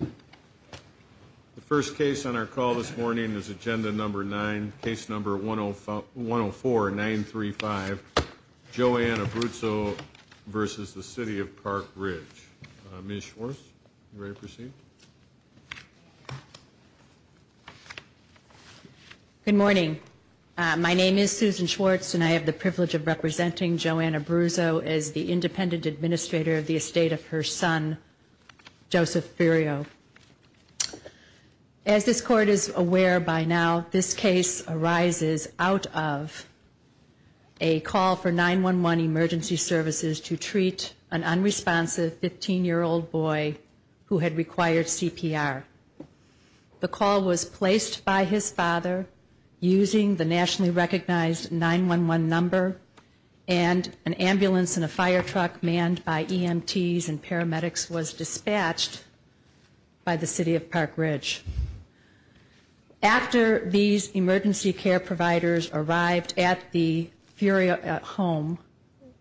The first case on our call this morning is Agenda Number 9, Case Number 104-935, Joanna Abruzzo v. City of Park Ridge. Ms. Schwartz, are you ready to proceed? Good morning. My name is Susan Schwartz and I have the privilege of representing Joanna Abruzzo as the Independent Administrator of the estate of her son, Joseph Ferriero. As this Court is aware by now, this case arises out of a call for 911 emergency services to treat an unresponsive 15-year-old boy who had required CPR. The call was placed by his father using the nationally recognized 911 number and an ambulance and paramedics was dispatched by the City of Park Ridge. After these emergency care providers arrived at the Ferriero home,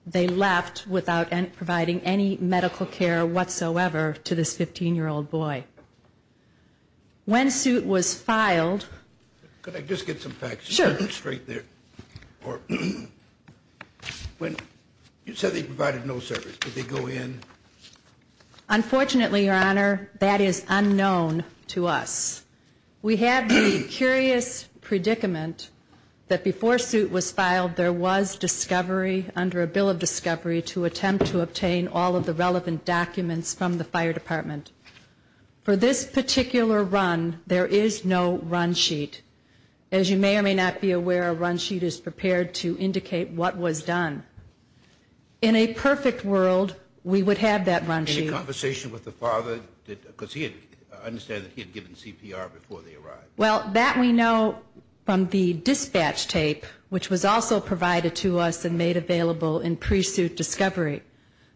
they left without providing any medical care whatsoever to this 15-year-old boy. When suit was filed... Could I just get some facts? Sure. You said they provided no service. Did they go in? Unfortunately, Your Honor, that is unknown to us. We have the curious predicament that before suit was filed, there was discovery under a Bill of Discovery to attempt to obtain all of the relevant documents from the Fire Department. For this particular run, there is no run sheet. As you may or may not be aware, a run sheet is prepared to indicate what was done. In a perfect world, we would have that run sheet. Any conversation with the father? Because I understand he had given CPR before they arrived. Well, that we know from the dispatch tape, which was also provided to us and made available in pre-suit discovery.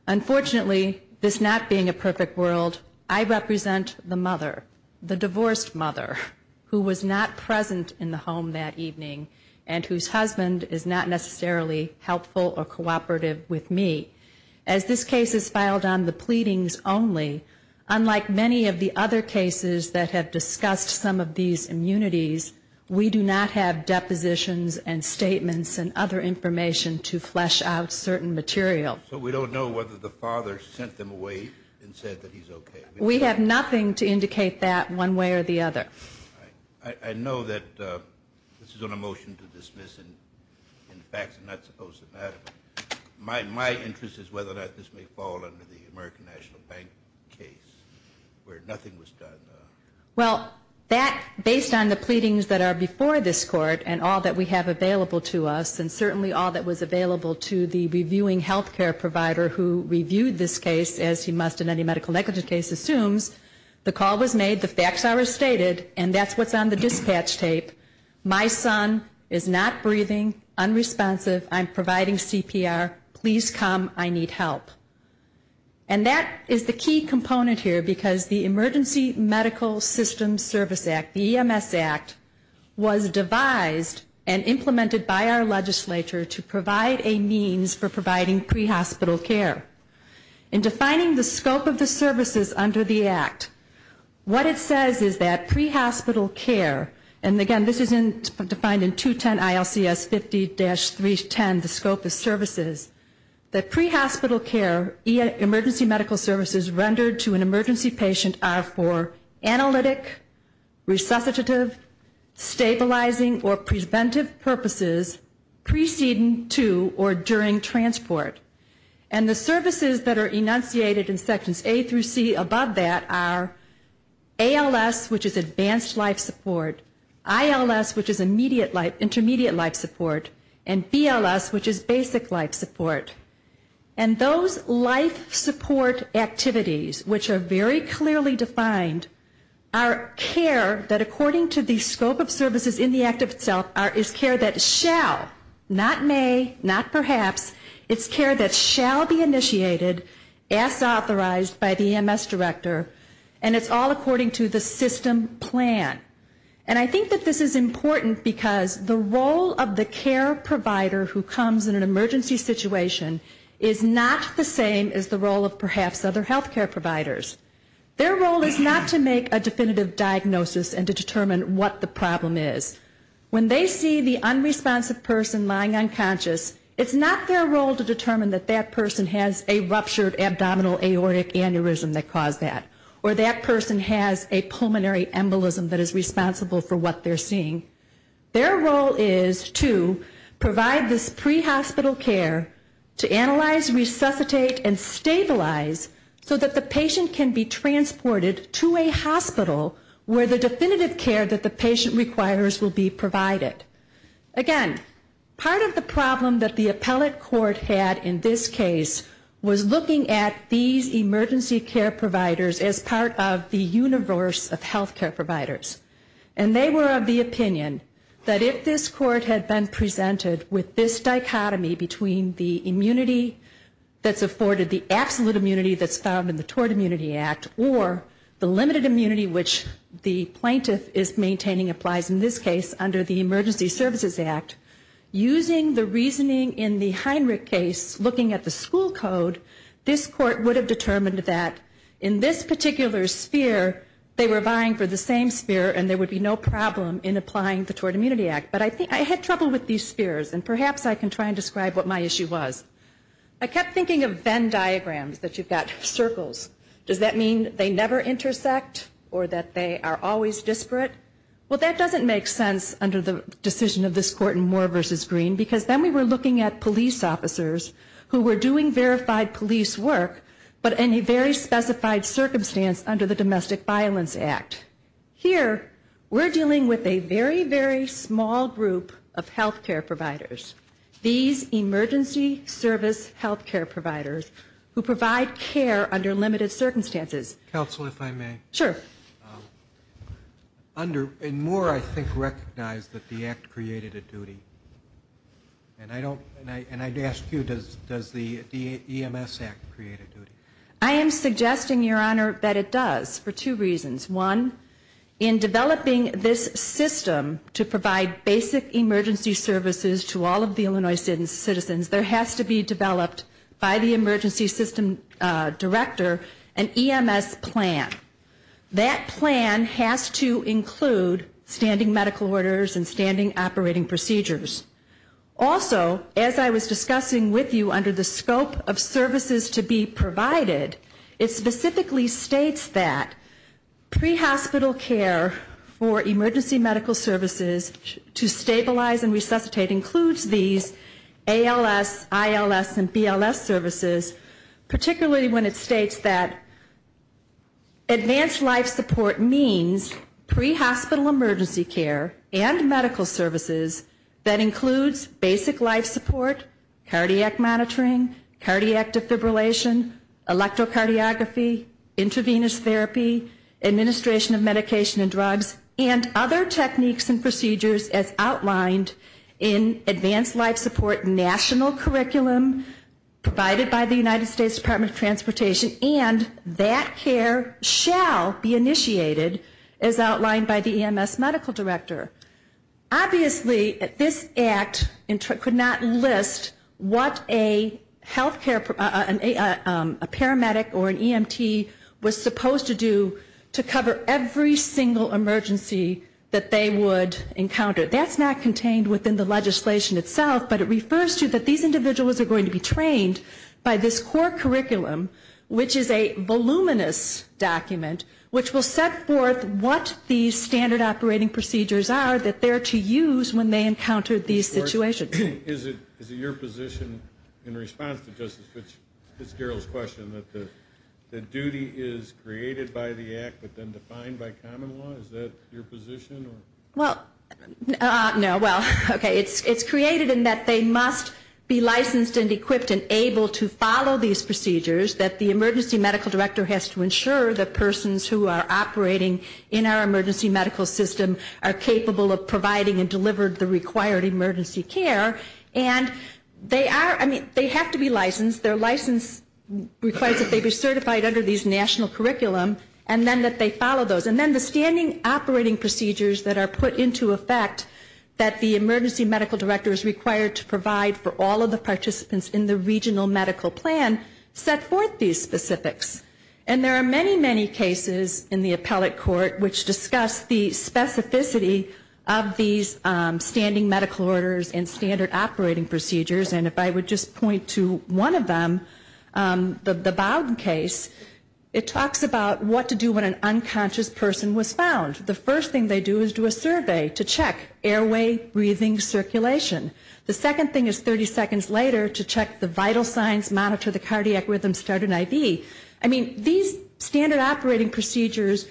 Unfortunately, this not being a perfect world, I represent the mother, the divorced mother, who was not present in the home that evening and whose husband is not necessarily helpful or cooperative with me. As this case is filed on the pleadings only, unlike many of the other cases that have discussed some of these immunities, we do not have depositions and statements and other information to flesh out certain material. So we don't know whether the father sent them away and said that he's okay? We have nothing to indicate that one way or the other. I know that this is on a motion to dismiss and in fact, I'm not supposed to matter. My interest is whether or not this may fall under the American National Bank case where nothing was done. Well, that based on the pleadings that are before this court and all that we have available to us and certainly all that was available to the reviewing health care provider who assumes the call was made, the facts are as stated, and that's what's on the dispatch tape. My son is not breathing, unresponsive, I'm providing CPR, please come, I need help. And that is the key component here because the Emergency Medical Systems Service Act, the EMS Act, was devised and implemented by our legislature to provide a means for the act. What it says is that pre-hospital care, and again, this is defined in 210 ILCS 50-310, the scope of services, that pre-hospital care emergency medical services rendered to an emergency patient are for analytic, resuscitative, stabilizing, or preventive purposes preceding to or during transport. And the services that are enunciated in Sections A through C above that are ALS, which is advanced life support, ILS, which is intermediate life support, and BLS, which is basic life support. And those life support activities, which are very clearly defined, are care that according to the scope of services in the act of itself is care that shall, not may, not perhaps, it's care that shall be initiated as authorized by the EMS director, and it's all according to the system plan. And I think that this is important because the role of the care provider who comes in an emergency situation is not the same as the role of perhaps other health care providers. Their role is not to make a definitive diagnosis and to determine what the problem is. When they see the unresponsive person lying unconscious, it's not their role to determine that that person has a ruptured abdominal aortic aneurysm that caused that, or that person has a pulmonary embolism that is responsible for what they're seeing. Their role is to provide this pre-hospital care to analyze, resuscitate, and stabilize so that the patient can be transported to a hospital where the definitive care that the patient requires will be provided. Again, part of the problem that the appellate court had in this case was looking at these emergency care providers as part of the universe of health care providers. And they were of the opinion that if this court had been presented with this dichotomy between the immunity that's afforded, the absolute immunity that's found in the Tort Immunity Act, or the limited immunity which the plaintiff is maintaining applies in this case under the Emergency Services Act, using the reasoning in the Heinrich case, looking at the school code, this court would have determined that in this particular sphere, they were vying for the same sphere and there would be no problem in applying the Tort Immunity Act. But I think I had trouble with these spheres, and perhaps I can try and describe what my issue was. I kept thinking of Venn diagrams, that you've got circles. Does that mean they never intersect, or that they are always disparate? Well, that doesn't make sense under the decision of this court in Moore v. Green, because then we were looking at police officers who were doing verified police work, but in a very specified circumstance under the Domestic Violence Act. Here, we're dealing with a very, very small group of health care providers. These emergency service health care providers who provide care under limited circumstances. Counsel, if I may. Sure. Under, in Moore, I think, recognized that the Act created a duty. And I don't, and I'd ask you, does the EMS Act create a duty? I am suggesting, Your Honor, that it does, for two reasons. One, in developing this system to provide basic emergency services to all of the Illinois citizens, there has to be developed by the emergency system director an EMS plan. That plan has to include standing medical orders and standing operating procedures. Also, as I was discussing with you under the scope of services to be provided, it specifically states that pre-hospital care for emergency medical services to stabilize and resuscitate includes these ALS, ILS, and BLS services, particularly when it states that advanced life support means pre-hospital emergency care and medical services that includes basic life support, cardiac monitoring, cardiac defibrillation, electrocardiography, intravenous therapy, administration of medication and drugs, and other techniques and procedures as outlined in advanced life support national curriculum provided by the United States Department of Transportation. And that care shall be initiated as outlined by the EMS medical director. Obviously, this Act could not list what a healthcare, a paramedic or that's not contained within the legislation itself, but it refers to that these individuals are going to be trained by this core curriculum, which is a voluminous document, which will set forth what these standard operating procedures are that they're to use when they encounter these situations. Is it your position in response to Justice Fitzgerald's question that the duty is created by the Act but then defined by common law? Is that your position? Well, no. Well, okay. It's created in that they must be licensed and equipped and able to follow these procedures, that the emergency medical director has to ensure that persons who are operating in our emergency medical system are capable of providing and delivering the required emergency care. And they are, I mean, they have to be licensed. Their license requires that they be certified under these national curriculum and then that they follow operating procedures that are put into effect that the emergency medical director is required to provide for all of the participants in the regional medical plan set forth these specifics. And there are many, many cases in the appellate court which discuss the specificity of these standing medical orders and standard operating procedures. And if I would just point to one of them, the Bowden case, it talks about what to do when an unconscious person was found. The first thing they do is do a survey to check airway, breathing, circulation. The second thing is 30 seconds later to check the vital signs, monitor the cardiac rhythm, start an IV. I mean, these standard operating procedures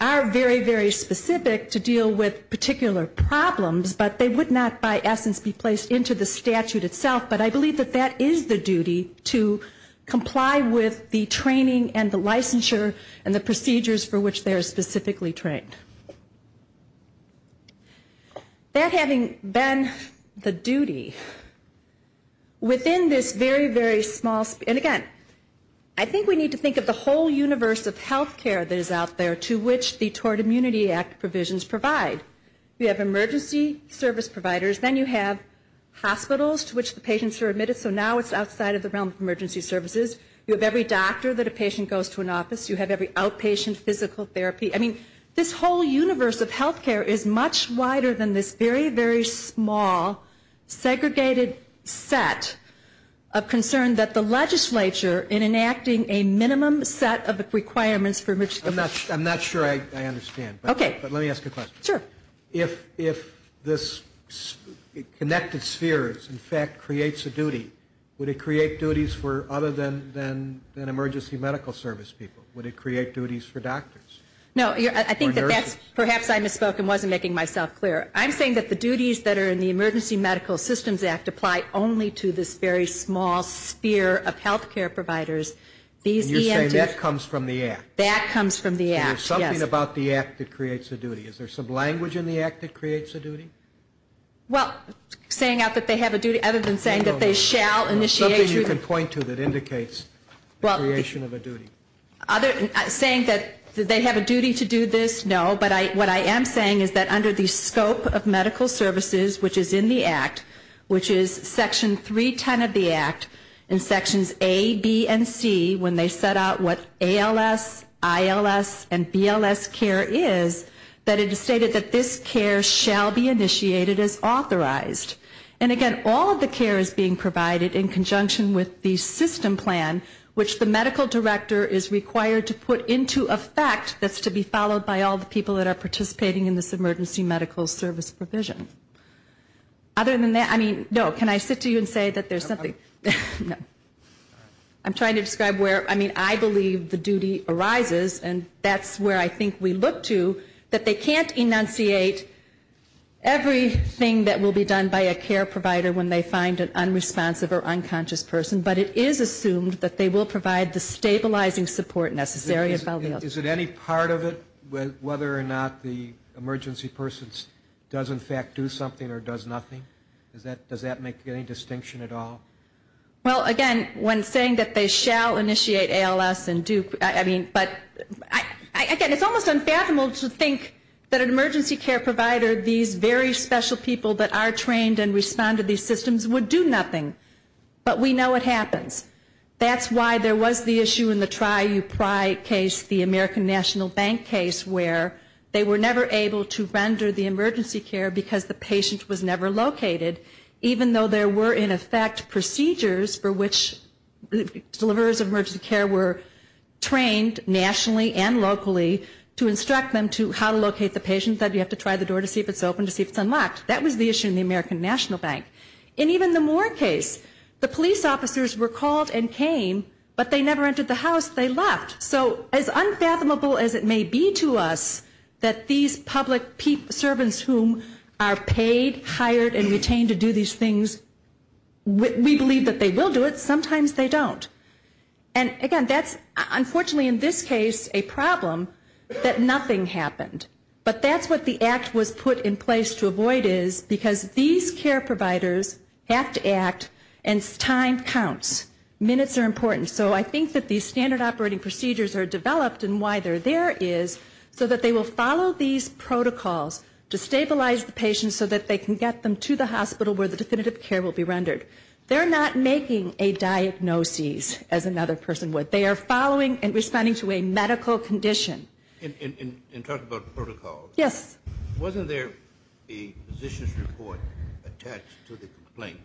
are very, very specific to deal with particular problems, but they would not by essence be placed into the statute itself. But I believe that that is the duty to comply with the training and the licensure and the training. That having been the duty, within this very, very small, and again, I think we need to think of the whole universe of healthcare that is out there to which the Tort Immunity Act provisions provide. You have emergency service providers, then you have hospitals to which the patients are admitted, so now it's outside of the realm of emergency services. You have every doctor that a patient goes to an office. You have every outpatient physical therapy. I mean, this whole universe of healthcare is much wider than this very, very small, segregated set of concern that the legislature, in enacting a minimum set of requirements for emergency services. I'm not sure I understand. Okay. But let me ask a question. Sure. If this connected spheres, in fact, creates a duty, would it create duties for other than emergency medical service people? Would it create duties for doctors? No. Or nurses? I think that that's, perhaps I misspoke and wasn't making myself clear. I'm saying that the duties that are in the Emergency Medical Systems Act apply only to this very small sphere of healthcare providers. These ENTs And you're saying that comes from the Act? That comes from the Act, yes. There's something about the Act that creates a duty. Is there some language in the Act that creates a duty? Well, saying out that they have a duty, other than saying that they shall initiate Something you can point to that indicates Creation of a duty. Saying that they have a duty to do this, no. But what I am saying is that under the scope of medical services, which is in the Act, which is Section 310 of the Act, in Sections A, B, and C, when they set out what ALS, ILS, and BLS care is, that it is stated that this care shall be initiated as authorized. And again, all of the care is being provided in conjunction with the system plan, which the medical director is required to put into effect that's to be followed by all the people that are participating in this emergency medical service provision. Other than that, I mean, no, can I sit to you and say that there's something No. I'm trying to describe where, I mean, I believe the duty arises, and that's where I think we look to, that they can't enunciate everything that will be done by a care provider when they find an it is assumed that they will provide the stabilizing support necessary. Is it any part of it whether or not the emergency person does in fact do something or does nothing? Does that make any distinction at all? Well, again, when saying that they shall initiate ALS and do, I mean, but, again, it's almost unfathomable to think that an emergency care provider, these very special people that are trained and respond to these systems would do nothing. But we know it happens. That's why there was the issue in the TriUPRI case, the American National Bank case, where they were never able to render the emergency care because the patient was never located, even though there were in effect procedures for which the deliverers of emergency care were trained nationally and locally to instruct them to how to locate the patient. The patient said you have to try the door to see if it's open to see if it's unlocked. That was the issue in the American National Bank. In even the Moore case, the police officers were called and came, but they never entered the house. They left. So as unfathomable as it may be to us that these public servants whom are paid, hired, and retained to do these things, we believe that they will do it. Sometimes they don't. And, again, that's unfortunately in this case a problem that nothing happened. But that's what the act was put in place to avoid is because these care providers have to act, and time counts. Minutes are important. So I think that these standard operating procedures are developed, and why they're there is so that they will follow these protocols to stabilize the patient so that they can get them to the hospital where the definitive care will be rendered. They're not making a diagnosis, as another person would. They are following and responding to a medical condition. In talking about protocols. Yes. Wasn't there a physician's report attached to the complaint?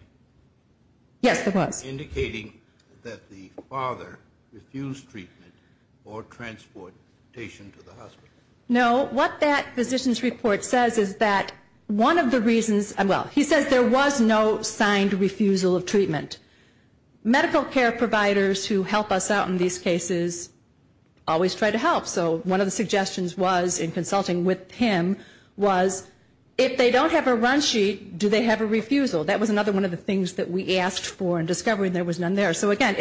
Yes, there was. Indicating that the father refused treatment or transportation to the hospital. No. What that physician's report says is that one of the reasons he says there was no signed refusal of treatment. Medical care providers who help us out in these cases always try to help. So one of the suggestions was in consulting with him was if they don't have a run sheet, do they have a refusal? That was another one of the things that we asked for in discovering there was none there. So, again,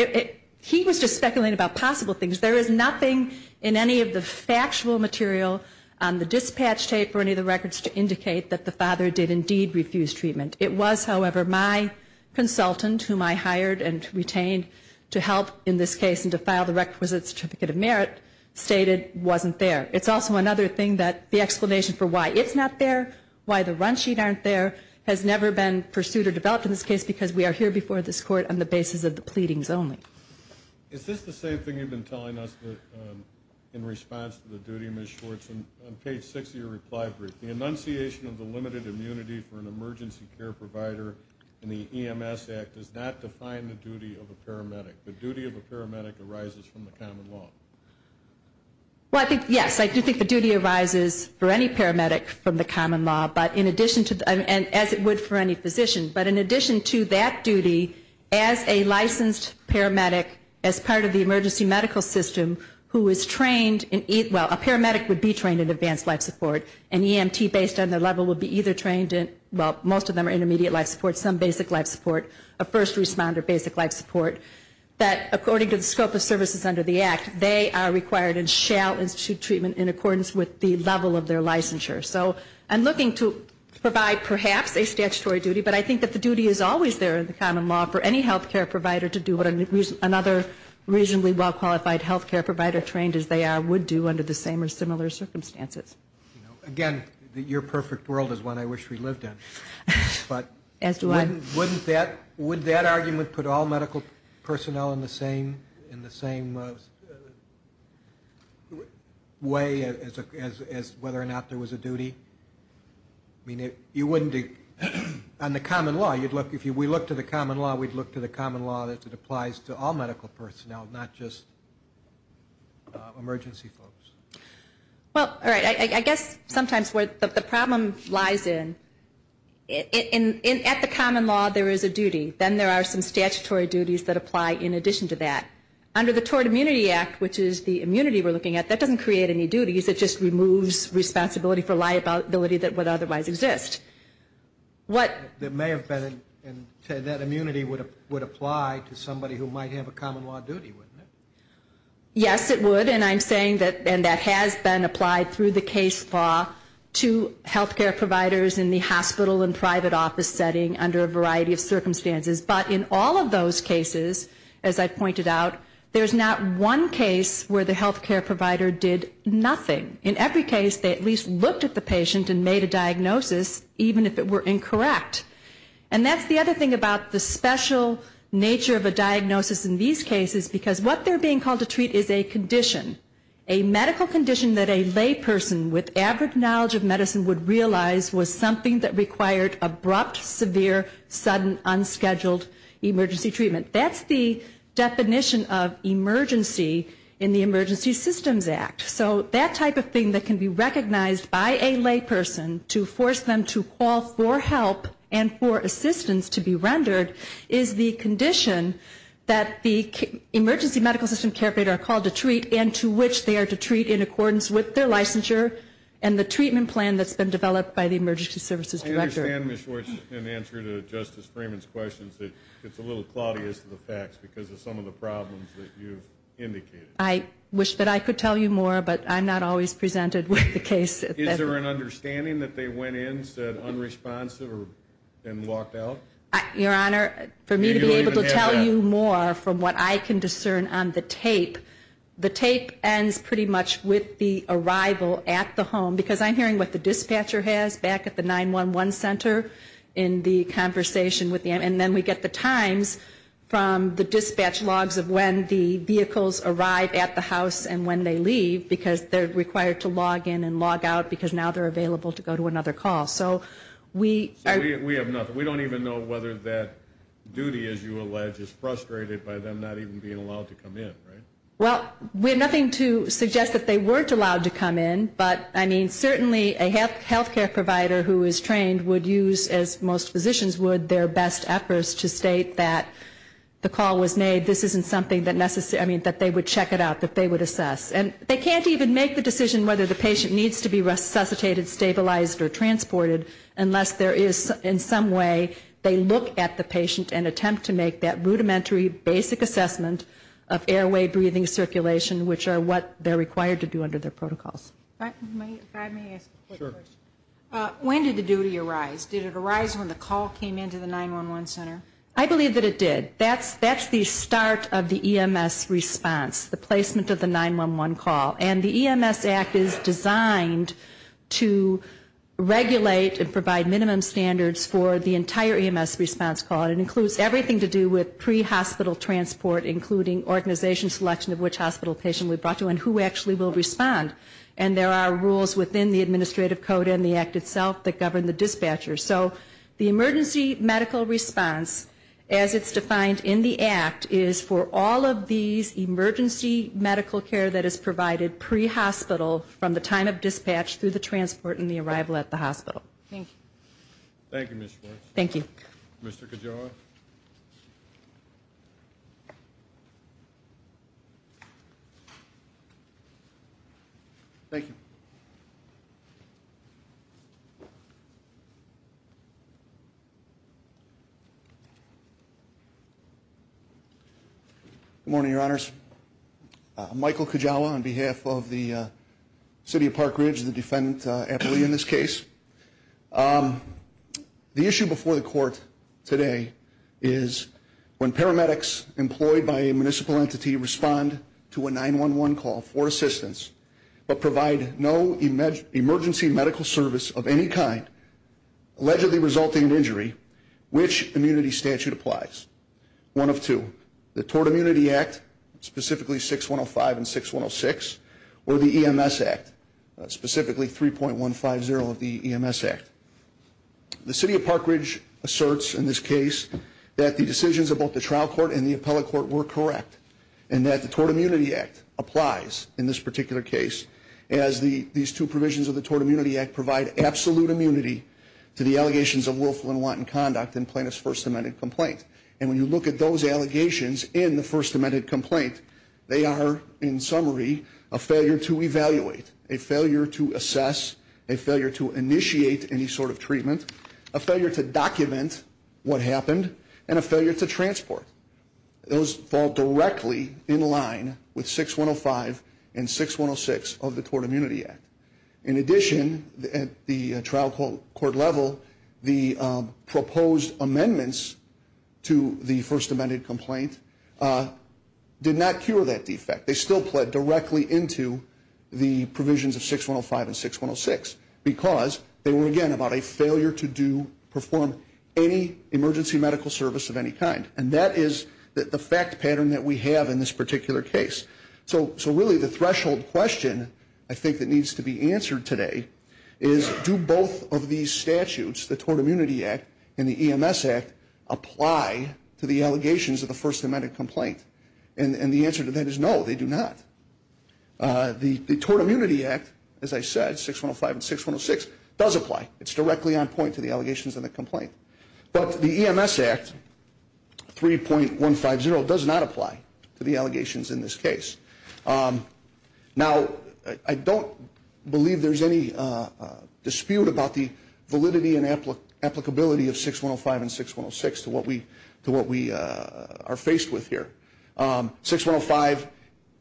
he was just speculating about possible things. There is nothing in any of the factual material on the dispatch tape or any of the records to indicate that the father did indeed refuse treatment. It was, however, my consultant whom I hired and retained to help in this case and to file the requisite certificate of merit stated wasn't there. It's also another thing that the explanation for why it's not there, why the run sheet aren't there, has never been pursued or developed in this case because we are here before this court on the basis of the pleadings only. Is this the same thing you've been telling us in response to the duty, Ms. Schwartz, on page 6 of your reply brief? The enunciation of the limited immunity for an emergency care provider in the EMS Act does not define the duty of a paramedic. The duty of a paramedic arises from the common law. Well, yes, I do think the duty arises for any paramedic from the common law, as it would for any physician. But in addition to that duty, as a licensed paramedic as part of the emergency medical system who is trained in, well, a paramedic would be trained in advanced life support. An EMT based on their level would be either trained in, well, most of them are intermediate life support, some basic life support, a first responder basic life support, that according to the scope of services under the Act, they are required and shall institute treatment in accordance with the level of their licensure. So I'm looking to provide perhaps a statutory duty, but I think that the duty is always there in the common law for any health care provider to do what another reasonably well-qualified health care provider trained as they are would do under the same or similar circumstances. Again, your perfect world is one I wish we lived in. As do I. But wouldn't that argument put all medical personnel in the same way as whether or not there was a duty? I mean, you wouldn't, on the common law, if we look to the common law, we'd look to the common law that it applies to all medical personnel, not just emergency folks. Well, all right. I guess sometimes where the problem lies in, at the common law there is a duty. Then there are some statutory duties that apply in addition to that. Under the Tort Immunity Act, which is the immunity we're looking at, that doesn't create any duties. It just removes responsibility for liability that would otherwise exist. There may have been, and that immunity would apply to somebody who might have a common law duty, wouldn't it? Yes, it would. And I'm saying that that has been applied through the case law to health care providers in the hospital and private office setting under a variety of circumstances. But in all of those cases, as I pointed out, there's not one case where the health care provider did nothing. In every case, they at least looked at the patient and made a diagnosis, even if it were incorrect. And that's the other thing about the special nature of a diagnosis in these cases, because what they're being called to treat is a condition, a medical condition that a layperson with average knowledge of medicine would realize was something that required abrupt, severe, sudden, unscheduled emergency treatment. That's the definition of emergency in the Emergency Systems Act. So that type of thing that can be recognized by a layperson to force them to call for help and for assistance to be rendered is the condition that the emergency medical system care providers are called to treat and to which they are to treat in accordance with their licensure and the treatment plan that's been developed by the emergency services director. I understand, Ms. Schwartz, in answer to Justice Freeman's questions, that it's a little cloudy as to the facts because of some of the problems that you've indicated. I wish that I could tell you more, but I'm not always presented with the case. Is there an understanding that they went in, said unresponsive, and walked out? Your Honor, for me to be able to tell you more from what I can discern on the tape, the tape ends pretty much with the arrival at the home. Because I'm hearing what the dispatcher has back at the 911 center in the conversation with them. And then we get the times from the dispatch logs of when the vehicles arrive at the house and when they leave because they're required to log in and log out because now they're available to go to another call. So we have nothing. We don't even know whether that duty, as you allege, is frustrated by them not even being allowed to come in, right? Well, we have nothing to suggest that they weren't allowed to come in, but I mean certainly a health care provider who is trained would use, as most physicians would, their best efforts to state that the call was made. This isn't something that they would check it out, that they would assess. And they can't even make the decision whether the patient needs to be resuscitated, stabilized, or transported unless there is in some way they look at the patient and attempt to make that rudimentary basic assessment of airway, breathing, circulation, which are what they're required to do under their protocols. May I ask a question? Sure. When did the duty arise? Did it arise when the call came into the 911 center? I believe that it did. That's the start of the EMS response, the placement of the 911 call. And the EMS Act is designed to regulate and provide minimum standards for the entire EMS response call. It includes everything to do with pre-hospital transport, including organization selection of which hospital patient we brought to and who actually will respond. And there are rules within the administrative code and the Act itself that govern the dispatcher. So the emergency medical response, as it's defined in the Act, is for all of these emergency medical care that is provided pre-hospital from the time of dispatch through the transport and the arrival at the hospital. Thank you. Thank you, Ms. Schwartz. Thank you. Mr. Cajoa. Thank you. Good morning, Your Honors. I'm Michael Cajoa on behalf of the City of Park Ridge, the defendant appellee in this case. The issue before the court today is when paramedics employed by a municipal entity respond to a 911 call for assistance but provide no emergency medical service of any kind allegedly resulting in injury, which immunity statute applies? One of two, the Tort Immunity Act, specifically 6105 and 6106, or the EMS Act, specifically 3.150 of the EMS Act. The City of Park Ridge asserts in this case that the decisions of both the trial court and the appellate court were correct and that the Tort Immunity Act applies in this particular case as these two provisions of the Tort Immunity Act provide absolute immunity to the allegations of willful and wanton conduct in plaintiff's First Amendment complaint. And when you look at those allegations in the First Amendment complaint, they are, in summary, a failure to evaluate, a failure to assess, a failure to initiate any sort of treatment, a failure to document what happened, and a failure to transport. Those fall directly in line with 6105 and 6106 of the Tort Immunity Act. In addition, at the trial court level, the proposed amendments to the First Amendment complaint did not cure that defect. They still pled directly into the provisions of 6105 and 6106 because they were, again, about a failure to perform any emergency medical service of any kind. And that is the fact pattern that we have in this particular case. So really the threshold question, I think, that needs to be answered today is, do both of these statutes, the Tort Immunity Act and the EMS Act, apply to the allegations of the First Amendment complaint? And the answer to that is no, they do not. The Tort Immunity Act, as I said, 6105 and 6106, does apply. It's directly on point to the allegations in the complaint. But the EMS Act, 3.150, does not apply to the allegations in this case. Now, I don't believe there's any dispute about the validity and applicability of 6105 and 6106 to what we are faced with here. 6105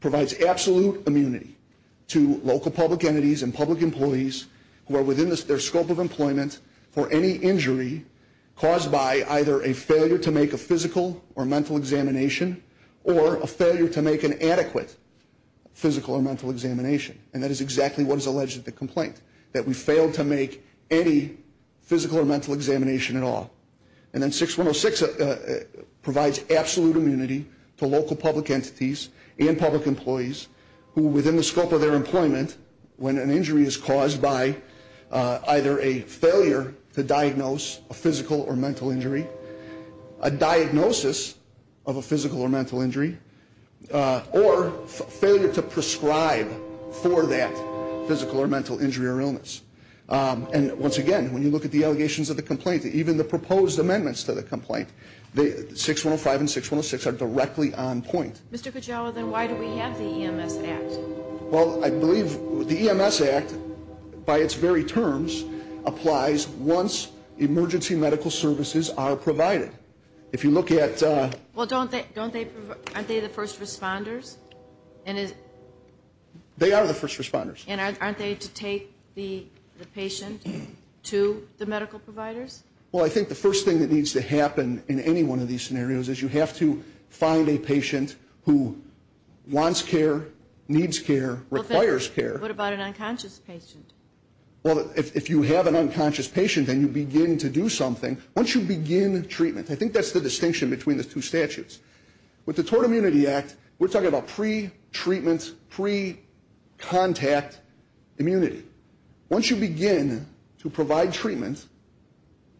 provides absolute immunity to local public entities and public employees who are within their scope of employment for any injury caused by either a failure to make a physical or mental examination or a failure to make an adequate physical or mental examination. And that is exactly what is alleged in the complaint, that we failed to make any physical or mental examination at all. And then 6106 provides absolute immunity to local public entities and public employees who are within the scope of their employment when an injury is caused by either a failure to diagnose a physical or mental injury, a diagnosis of a physical or mental injury, or failure to prescribe for that physical or mental injury or illness. And once again, when you look at the allegations of the complaint, even the proposed amendments to the complaint, 6105 and 6106 are directly on point. Mr. Kujawa, then why do we have the EMS Act? Well, I believe the EMS Act, by its very terms, applies once emergency medical services are provided. If you look at... Well, aren't they the first responders? They are the first responders. And aren't they to take the patient to the medical providers? Well, I think the first thing that needs to happen in any one of these scenarios is you have to find a patient who wants care, needs care, requires care. What about an unconscious patient? Well, if you have an unconscious patient and you begin to do something, once you begin treatment, I think that's the distinction between the two statutes. With the Tort Immunity Act, we're talking about pre-treatment, pre-contact immunity. Once you begin to provide treatment,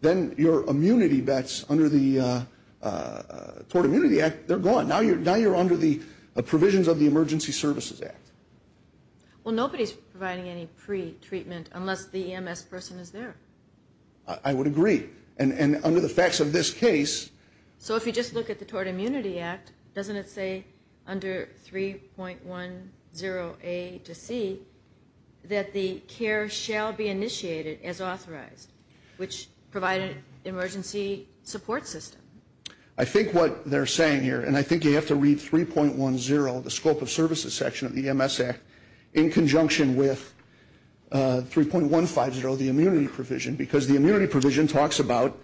then your immunity that's under the Tort Immunity Act, they're gone. Now you're under the provisions of the Emergency Services Act. Well, nobody's providing any pre-treatment unless the EMS person is there. I would agree. And under the facts of this case... So if you just look at the Tort Immunity Act, doesn't it say under 3.10a to c, that the care shall be initiated as authorized, which provide an emergency support system? I think what they're saying here, and I think you have to read 3.10, the Scope of Services section of the EMS Act, in conjunction with 3.150, the immunity provision, because the immunity provision talks about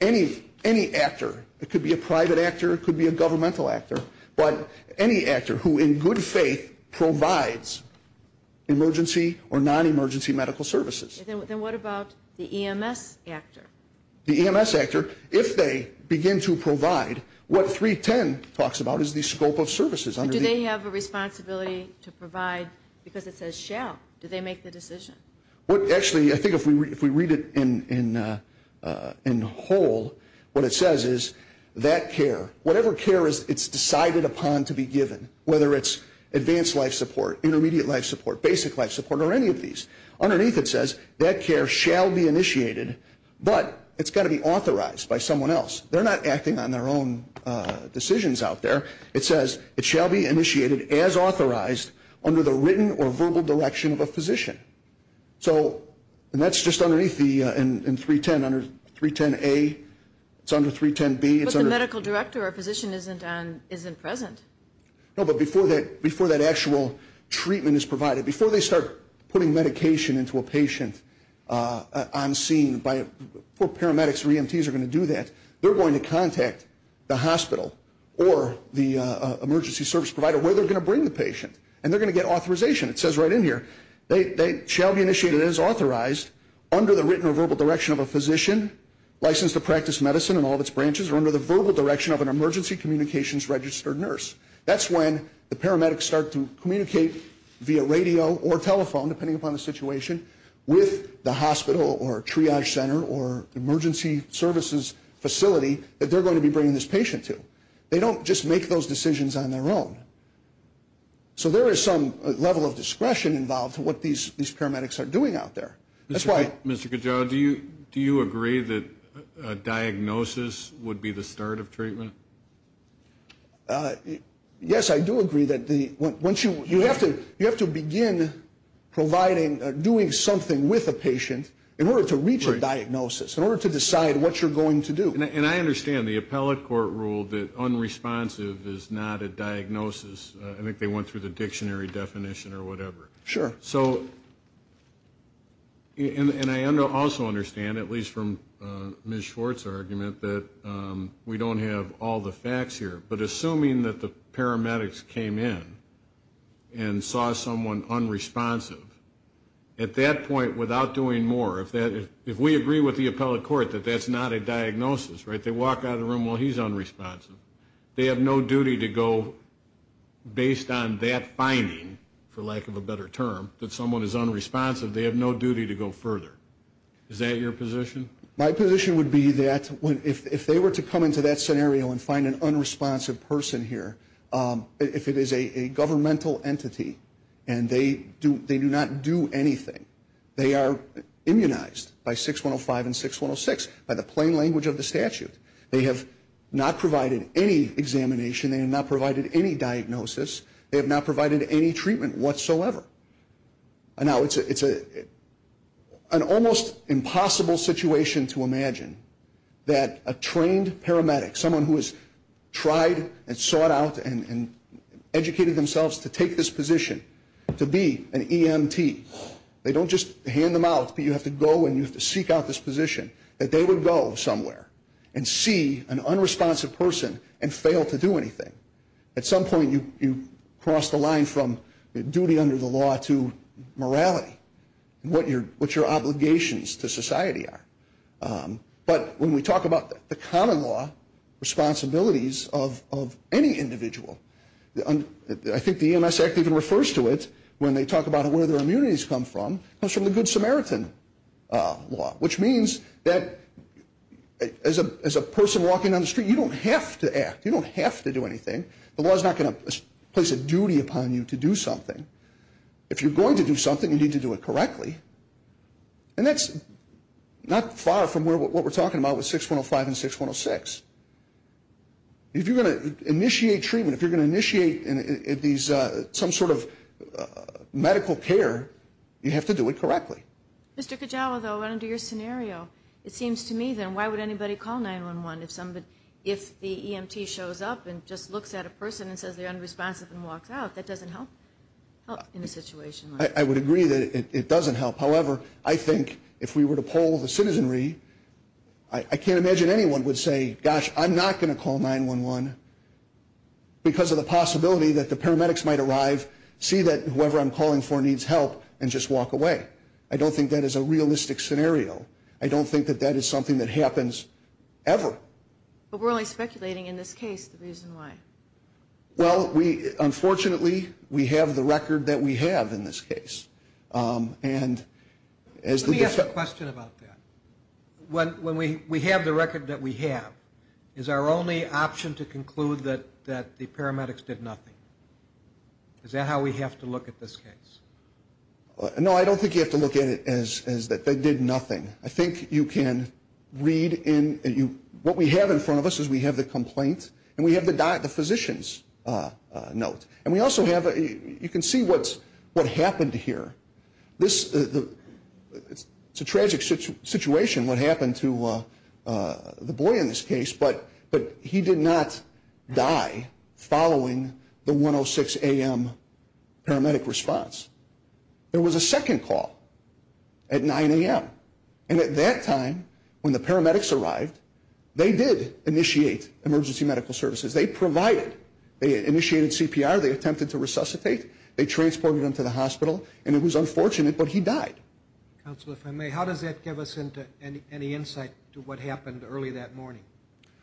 any actor. It could be a private actor, it could be a governmental actor, but any actor who in good faith provides emergency or non-emergency medical services. Then what about the EMS actor? The EMS actor, if they begin to provide, what 3.10 talks about is the Scope of Services. Do they have a responsibility to provide because it says shall? Do they make the decision? Actually, I think if we read it in whole, what it says is that care, whatever care it's decided upon to be given, whether it's advanced life support, intermediate life support, basic life support, or any of these, underneath it says that care shall be initiated, but it's got to be authorized by someone else. They're not acting on their own decisions out there. It says it shall be initiated as authorized under the written or verbal direction of a physician. And that's just underneath the 3.10, under 3.10a, it's under 3.10b. But the medical director or physician isn't present. No, but before that actual treatment is provided, before they start putting medication into a patient on scene, poor paramedics or EMTs are going to do that. They're going to contact the hospital or the emergency service provider where they're going to bring the patient, and they're going to get authorization. It says right in here they shall be initiated as authorized under the written or verbal direction of a physician, licensed to practice medicine in all of its branches, or under the verbal direction of an emergency communications registered nurse. That's when the paramedics start to communicate via radio or telephone, depending upon the situation, with the hospital or triage center or emergency services facility that they're going to be bringing this patient to. They don't just make those decisions on their own. So there is some level of discretion involved to what these paramedics are doing out there. That's why – Mr. Cajal, do you agree that a diagnosis would be the start of treatment? Yes, I do agree. You have to begin providing, doing something with a patient in order to reach a diagnosis, in order to decide what you're going to do. And I understand the appellate court ruled that unresponsive is not a diagnosis. I think they went through the dictionary definition or whatever. Sure. So – and I also understand, at least from Ms. Schwartz's argument, that we don't have all the facts here. But assuming that the paramedics came in and saw someone unresponsive, at that point, without doing more, if we agree with the appellate court that that's not a diagnosis, right, they walk out of the room, well, he's unresponsive. They have no duty to go – based on that finding, for lack of a better term, that someone is unresponsive, they have no duty to go further. Is that your position? My position would be that if they were to come into that scenario and find an unresponsive person here, if it is a governmental entity and they do not do anything, they are immunized by 6105 and 6106, by the plain language of the statute. They have not provided any examination. They have not provided any diagnosis. They have not provided any treatment whatsoever. Now, it's an almost impossible situation to imagine that a trained paramedic, someone who has tried and sought out and educated themselves to take this position, to be an EMT, they don't just hand them out, but you have to go and you have to seek out this position, that they would go somewhere and see an unresponsive person and fail to do anything. At some point you cross the line from duty under the law to morality, what your obligations to society are. But when we talk about the common law responsibilities of any individual, I think the EMS Act even refers to it when they talk about where their immunities come from, comes from the Good Samaritan law, which means that as a person walking down the street, you don't have to act. You don't have to do anything. The law is not going to place a duty upon you to do something. If you're going to do something, you need to do it correctly. And that's not far from what we're talking about with 6105 and 6106. If you're going to initiate treatment, if you're going to initiate some sort of medical care, you have to do it correctly. Mr. Cajal, though, under your scenario, it seems to me, then, why would anybody call 911? If the EMT shows up and just looks at a person and says they're unresponsive and walks out, that doesn't help in a situation like this. I would agree that it doesn't help. However, I think if we were to poll the citizenry, I can't imagine anyone would say, gosh, I'm not going to call 911 because of the possibility that the paramedics might arrive, see that whoever I'm calling for needs help, and just walk away. I don't think that is a realistic scenario. I don't think that that is something that happens ever. But we're only speculating in this case the reason why. Well, unfortunately, we have the record that we have in this case. Let me ask a question about that. When we have the record that we have, is our only option to conclude that the paramedics did nothing? Is that how we have to look at this case? No, I don't think you have to look at it as that they did nothing. I think you can read in, what we have in front of us is we have the complaint and we have the physician's note. And we also have, you can see what happened here. It's a tragic situation what happened to the boy in this case, but he did not die following the 106 a.m. paramedic response. There was a second call at 9 a.m., and at that time when the paramedics arrived, they did initiate emergency medical services. They provided, they initiated CPR, they attempted to resuscitate, they transported him to the hospital, and it was unfortunate, but he died. Counsel, if I may, how does that give us any insight to what happened early that morning?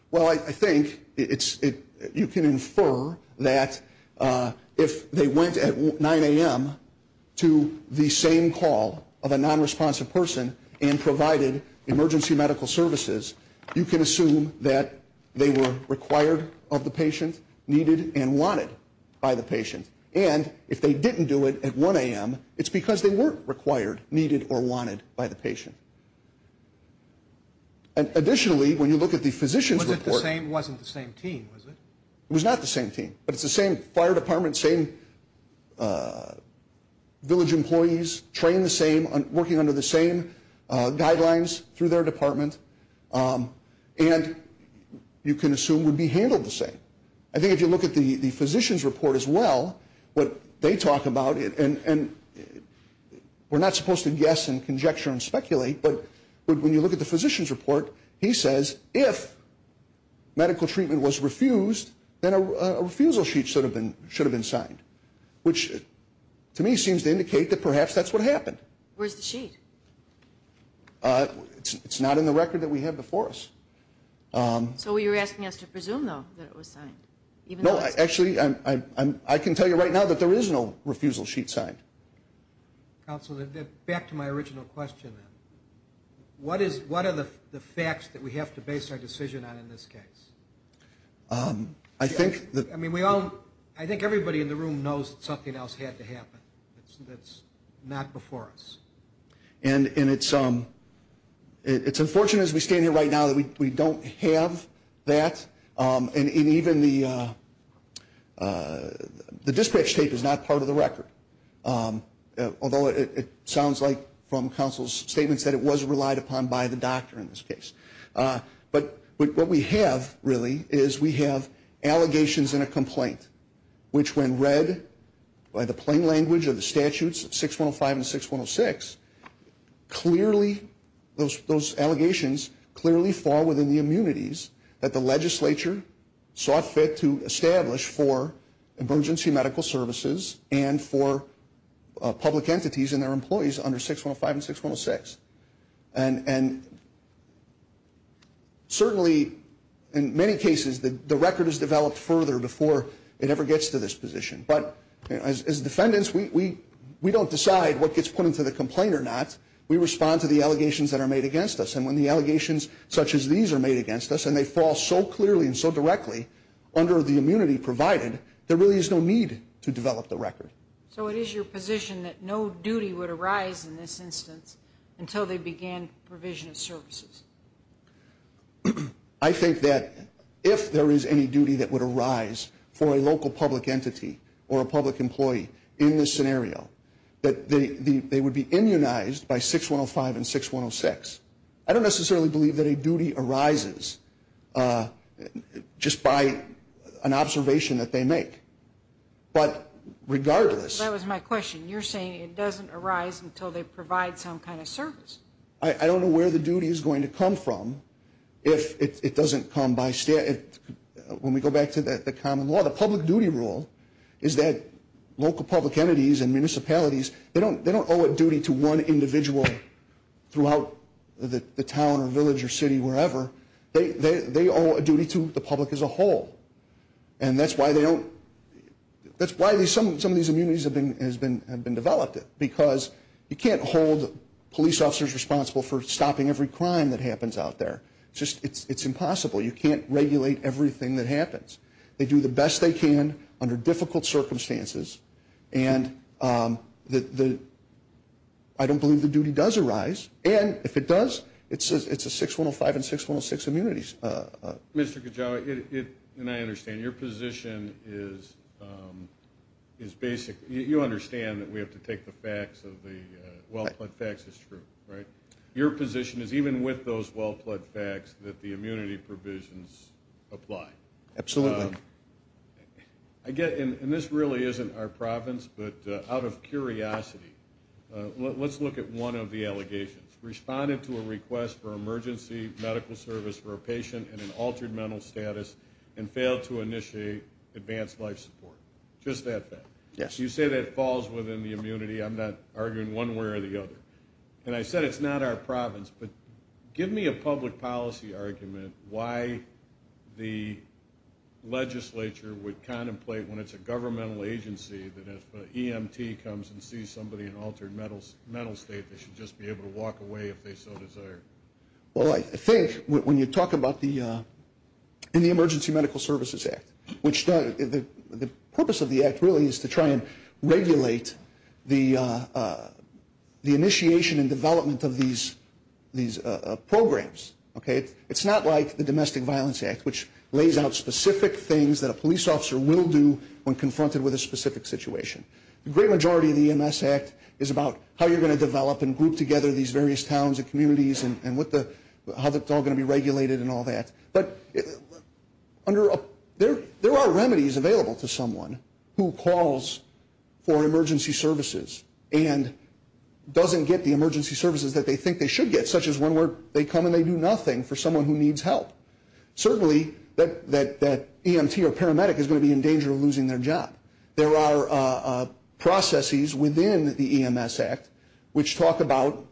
Well, I think you can infer that if they went at 9 a.m. to the same call of a nonresponsive person and provided emergency medical services, you can assume that they were required of the patient, needed and wanted by the patient. And if they didn't do it at 1 a.m., it's because they weren't required, needed or wanted by the patient. Additionally, when you look at the physician's report. It wasn't the same team, was it? It was not the same team, but it's the same fire department, same village employees, trained the same, working under the same guidelines through their department, and you can assume would be handled the same. I think if you look at the physician's report as well, what they talk about, and we're not supposed to guess and conjecture and speculate, but when you look at the physician's report, he says if medical treatment was refused, then a refusal sheet should have been signed, which to me seems to indicate that perhaps that's what happened. Where's the sheet? It's not in the record that we have before us. So you're asking us to presume, though, that it was signed? No, actually, I can tell you right now that there is no refusal sheet signed. Counsel, back to my original question. What are the facts that we have to base our decision on in this case? I think everybody in the room knows that something else had to happen that's not before us. And it's unfortunate as we stand here right now that we don't have that, and even the dispatch tape is not part of the record, although it sounds like from counsel's statements that it was relied upon by the doctor in this case. But what we have, really, is we have allegations and a complaint, which when read by the plain language of the statutes 6105 and 6106, those allegations clearly fall within the immunities that the legislature sought to establish for emergency medical services and for public entities and their employees under 6105 and 6106. And certainly, in many cases, the record is developed further before it ever gets to this position. But as defendants, we don't decide what gets put into the complaint or not. We respond to the allegations that are made against us. And when the allegations such as these are made against us, and they fall so clearly and so directly under the immunity provided, there really is no need to develop the record. So it is your position that no duty would arise in this instance until they began provision of services? I think that if there is any duty that would arise for a local public entity or a public employee in this scenario, that they would be immunized by 6105 and 6106. I don't necessarily believe that a duty arises just by an observation that they make. But regardless... That was my question. You're saying it doesn't arise until they provide some kind of service. I don't know where the duty is going to come from if it doesn't come by statute. When we go back to the common law, the public duty rule is that local public entities and municipalities, they don't owe a duty to one individual throughout the town or village or city, wherever. They owe a duty to the public as a whole. And that's why some of these immunities have been developed, because you can't hold police officers responsible for stopping every crime that happens out there. It's impossible. You can't regulate everything that happens. They do the best they can under difficult circumstances, and I don't believe the duty does arise. And if it does, it's a 6105 and 6106 immunities. Mr. Kajawa, and I understand, your position is basic. You understand that we have to take the facts of the well-pled facts as true, right? Your position is even with those well-pled facts that the immunity provisions apply. Absolutely. And this really isn't our province, but out of curiosity, let's look at one of the allegations. Responded to a request for emergency medical service for a patient in an altered mental status and failed to initiate advanced life support. Just that fact. Yes. You say that falls within the immunity. I'm not arguing one way or the other. And I said it's not our province, but give me a public policy argument why the legislature would contemplate, when it's a governmental agency, that if an EMT comes and sees somebody in altered mental state, they should just be able to walk away if they so desire. Well, I think when you talk about the Emergency Medical Services Act, the purpose of the act really is to try and regulate the initiation and development of these programs. It's not like the Domestic Violence Act, which lays out specific things that a police officer will do when confronted with a specific situation. The great majority of the EMS Act is about how you're going to develop and group together these various towns and communities and how it's all going to be regulated and all that. But there are remedies available to someone who calls for emergency services and doesn't get the emergency services that they think they should get, such as when they come and they do nothing for someone who needs help. Certainly that EMT or paramedic is going to be in danger of losing their job. There are processes within the EMS Act which talk about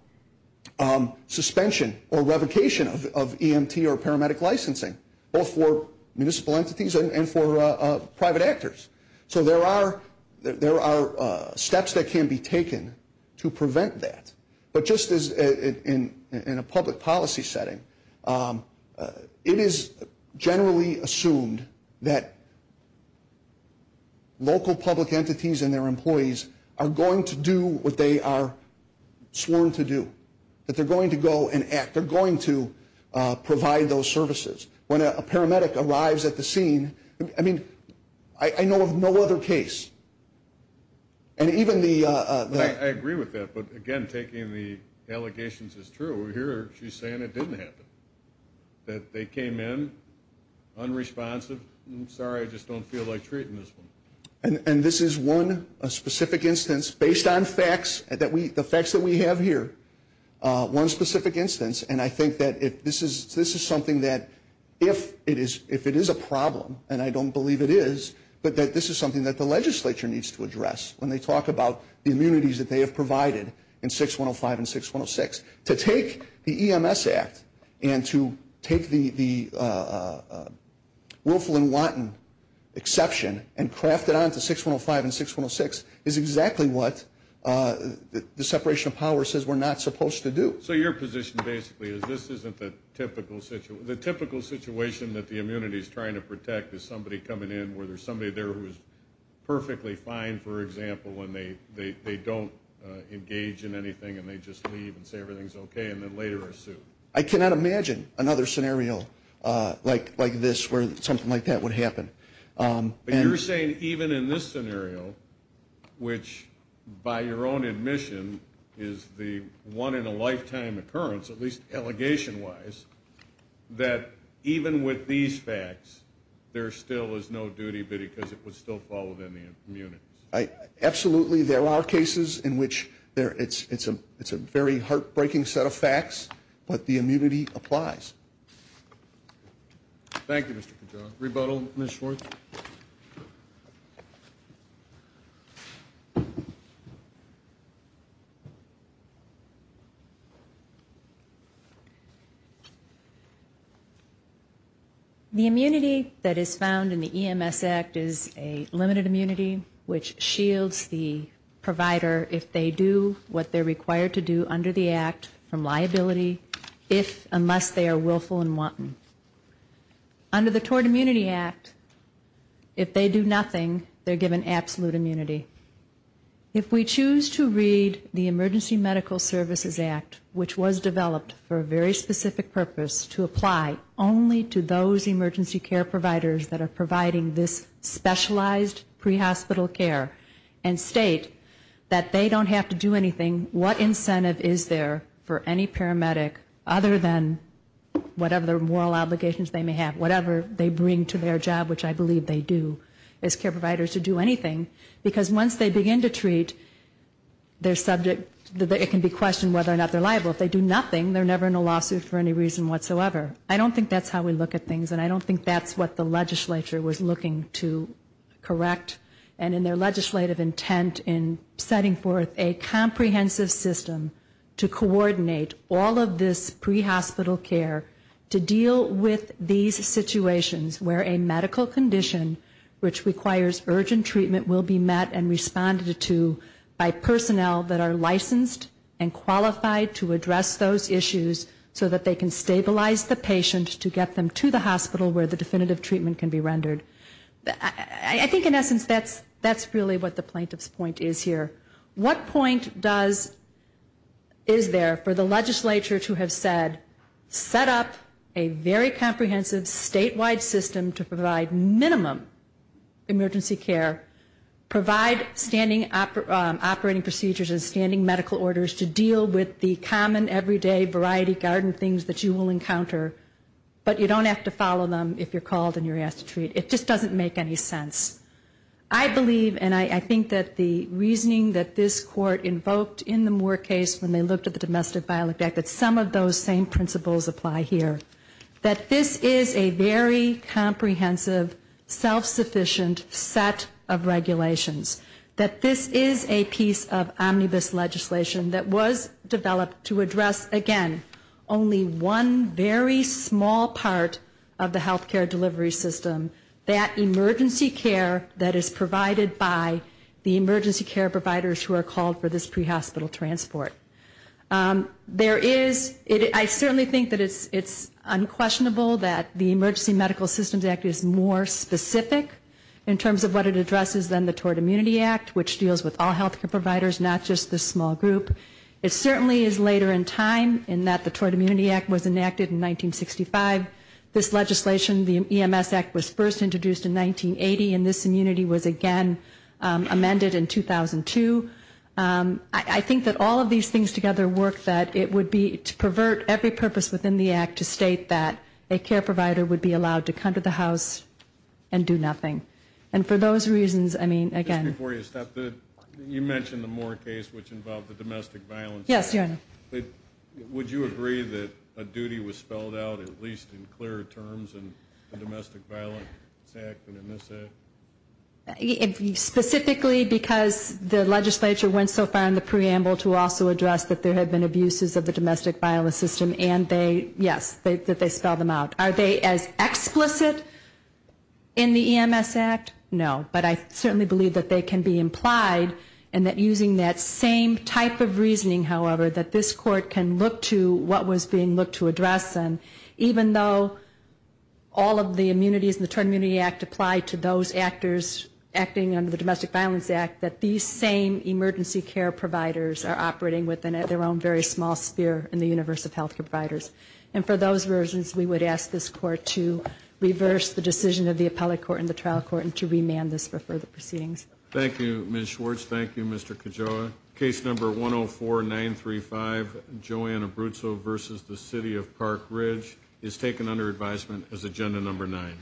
suspension or revocation of EMT or paramedic licensing, both for municipal entities and for private actors. So there are steps that can be taken to prevent that. But just as in a public policy setting, it is generally assumed that local public entities and their employees are going to do what they are sworn to do, that they're going to go and act. They're going to provide those services. When a paramedic arrives at the scene, I mean, I know of no other case. I agree with that. But, again, taking the allegations is true. Here she's saying it didn't happen, that they came in unresponsive. Sorry, I just don't feel like treating this one. And this is one specific instance based on facts, the facts that we have here, one specific instance. And I think that this is something that if it is a problem, and I don't believe it is, but that this is something that the legislature needs to address when they talk about the immunities that they have provided in 6105 and 6106. To take the EMS Act and to take the Wolfland-Wanton exception and craft it onto 6105 and 6106 is exactly what the separation of power says we're not supposed to do. So your position basically is this isn't the typical situation. The situation that the immunity is trying to protect is somebody coming in where there's somebody there who is perfectly fine, for example, and they don't engage in anything and they just leave and say everything's okay and then later are sued. I cannot imagine another scenario like this where something like that would happen. But you're saying even in this scenario, which by your own admission is the one-in-a-lifetime occurrence, at least allegation-wise, that even with these facts there still is no duty, because it would still fall within the immunities. Absolutely there are cases in which it's a very heartbreaking set of facts, but the immunity applies. Thank you, Mr. Pagano. Rebuttal, Ms. Schwartz. The immunity that is found in the EMS Act is a limited immunity which shields the provider, if they do what they're required to do under the Act, from liability unless they are willful and wanton. Under the Tort Immunity Act, if they do nothing, they're given absolute immunity. If we choose to read the Emergency Medical Services Act, which was developed for a very specific purpose to apply only to those emergency care providers that are providing this specialized prehospital care and state that they don't have to do anything, what incentive is there for any paramedic other than whatever moral obligations they may have, whatever they bring to their job, which I believe they do as care providers, to do anything? Because once they begin to treat their subject, it can be questioned whether or not they're liable. If they do nothing, they're never in a lawsuit for any reason whatsoever. I don't think that's how we look at things, and I don't think that's what the legislature was looking to correct. And in their legislative intent in setting forth a comprehensive system to coordinate all of this prehospital care to deal with these situations where a medical condition which requires urgent treatment will be met and responded to by personnel that are licensed and qualified to address those issues so that they can stabilize the patient to get them to the hospital where the definitive treatment can be rendered. I think in essence that's really what the plaintiff's point is here. What point is there for the legislature to have said, set up a very comprehensive statewide system to provide minimum emergency care, provide standing operating procedures and standing medical orders to deal with the common everyday variety garden things that you will encounter, but you don't have to follow them if you're called and you're asked to treat. It just doesn't make any sense. I believe, and I think that the reasoning that this Court invoked in the Moore case when they looked at the Domestic Violence Act, that some of those same principles apply here. That this is a very comprehensive, self-sufficient set of regulations. That this is a piece of omnibus legislation that was developed to address, again, only one very small part of the health care delivery system, that emergency care that is provided by the emergency care providers who are called for this pre-hospital transport. There is, I certainly think that it's unquestionable that the Emergency Medical Systems Act is more specific in terms of what it addresses than the Tort Immunity Act, which deals with all health care providers, not just this small group. It certainly is later in time in that the Tort Immunity Act was enacted in 1965. This legislation, the EMS Act, was first introduced in 1980, and this immunity was again amended in 2002. I think that all of these things together work that it would be to pervert every purpose within the act to state that a care provider would be allowed to come to the house and do nothing. And for those reasons, I mean, again. You mentioned the Moore case, which involved the domestic violence. Yes, Your Honor. Would you agree that a duty was spelled out, at least in clearer terms, in the Domestic Violence Act and in this act? Specifically because the legislature went so far in the preamble to also address that there had been abuses of the domestic violence system, and they, yes, that they spelled them out. Are they as explicit in the EMS Act? No. But I certainly believe that they can be implied, and that using that same type of reasoning, however, that this Court can look to what was being looked to address, and even though all of the immunities in the Tort Immunity Act apply to those actors acting under the Domestic Violence Act, that these same emergency care providers are operating within their own very small sphere in the universe of health care providers. And for those reasons, we would ask this Court to reverse the decision of the appellate court and the trial court and to remand this for further proceedings. Thank you, Ms. Schwartz. Thank you, Mr. Cajoa. Case number 104-935, Joanne Abruzzo v. The City of Park Ridge, is taken under advisement as agenda number nine.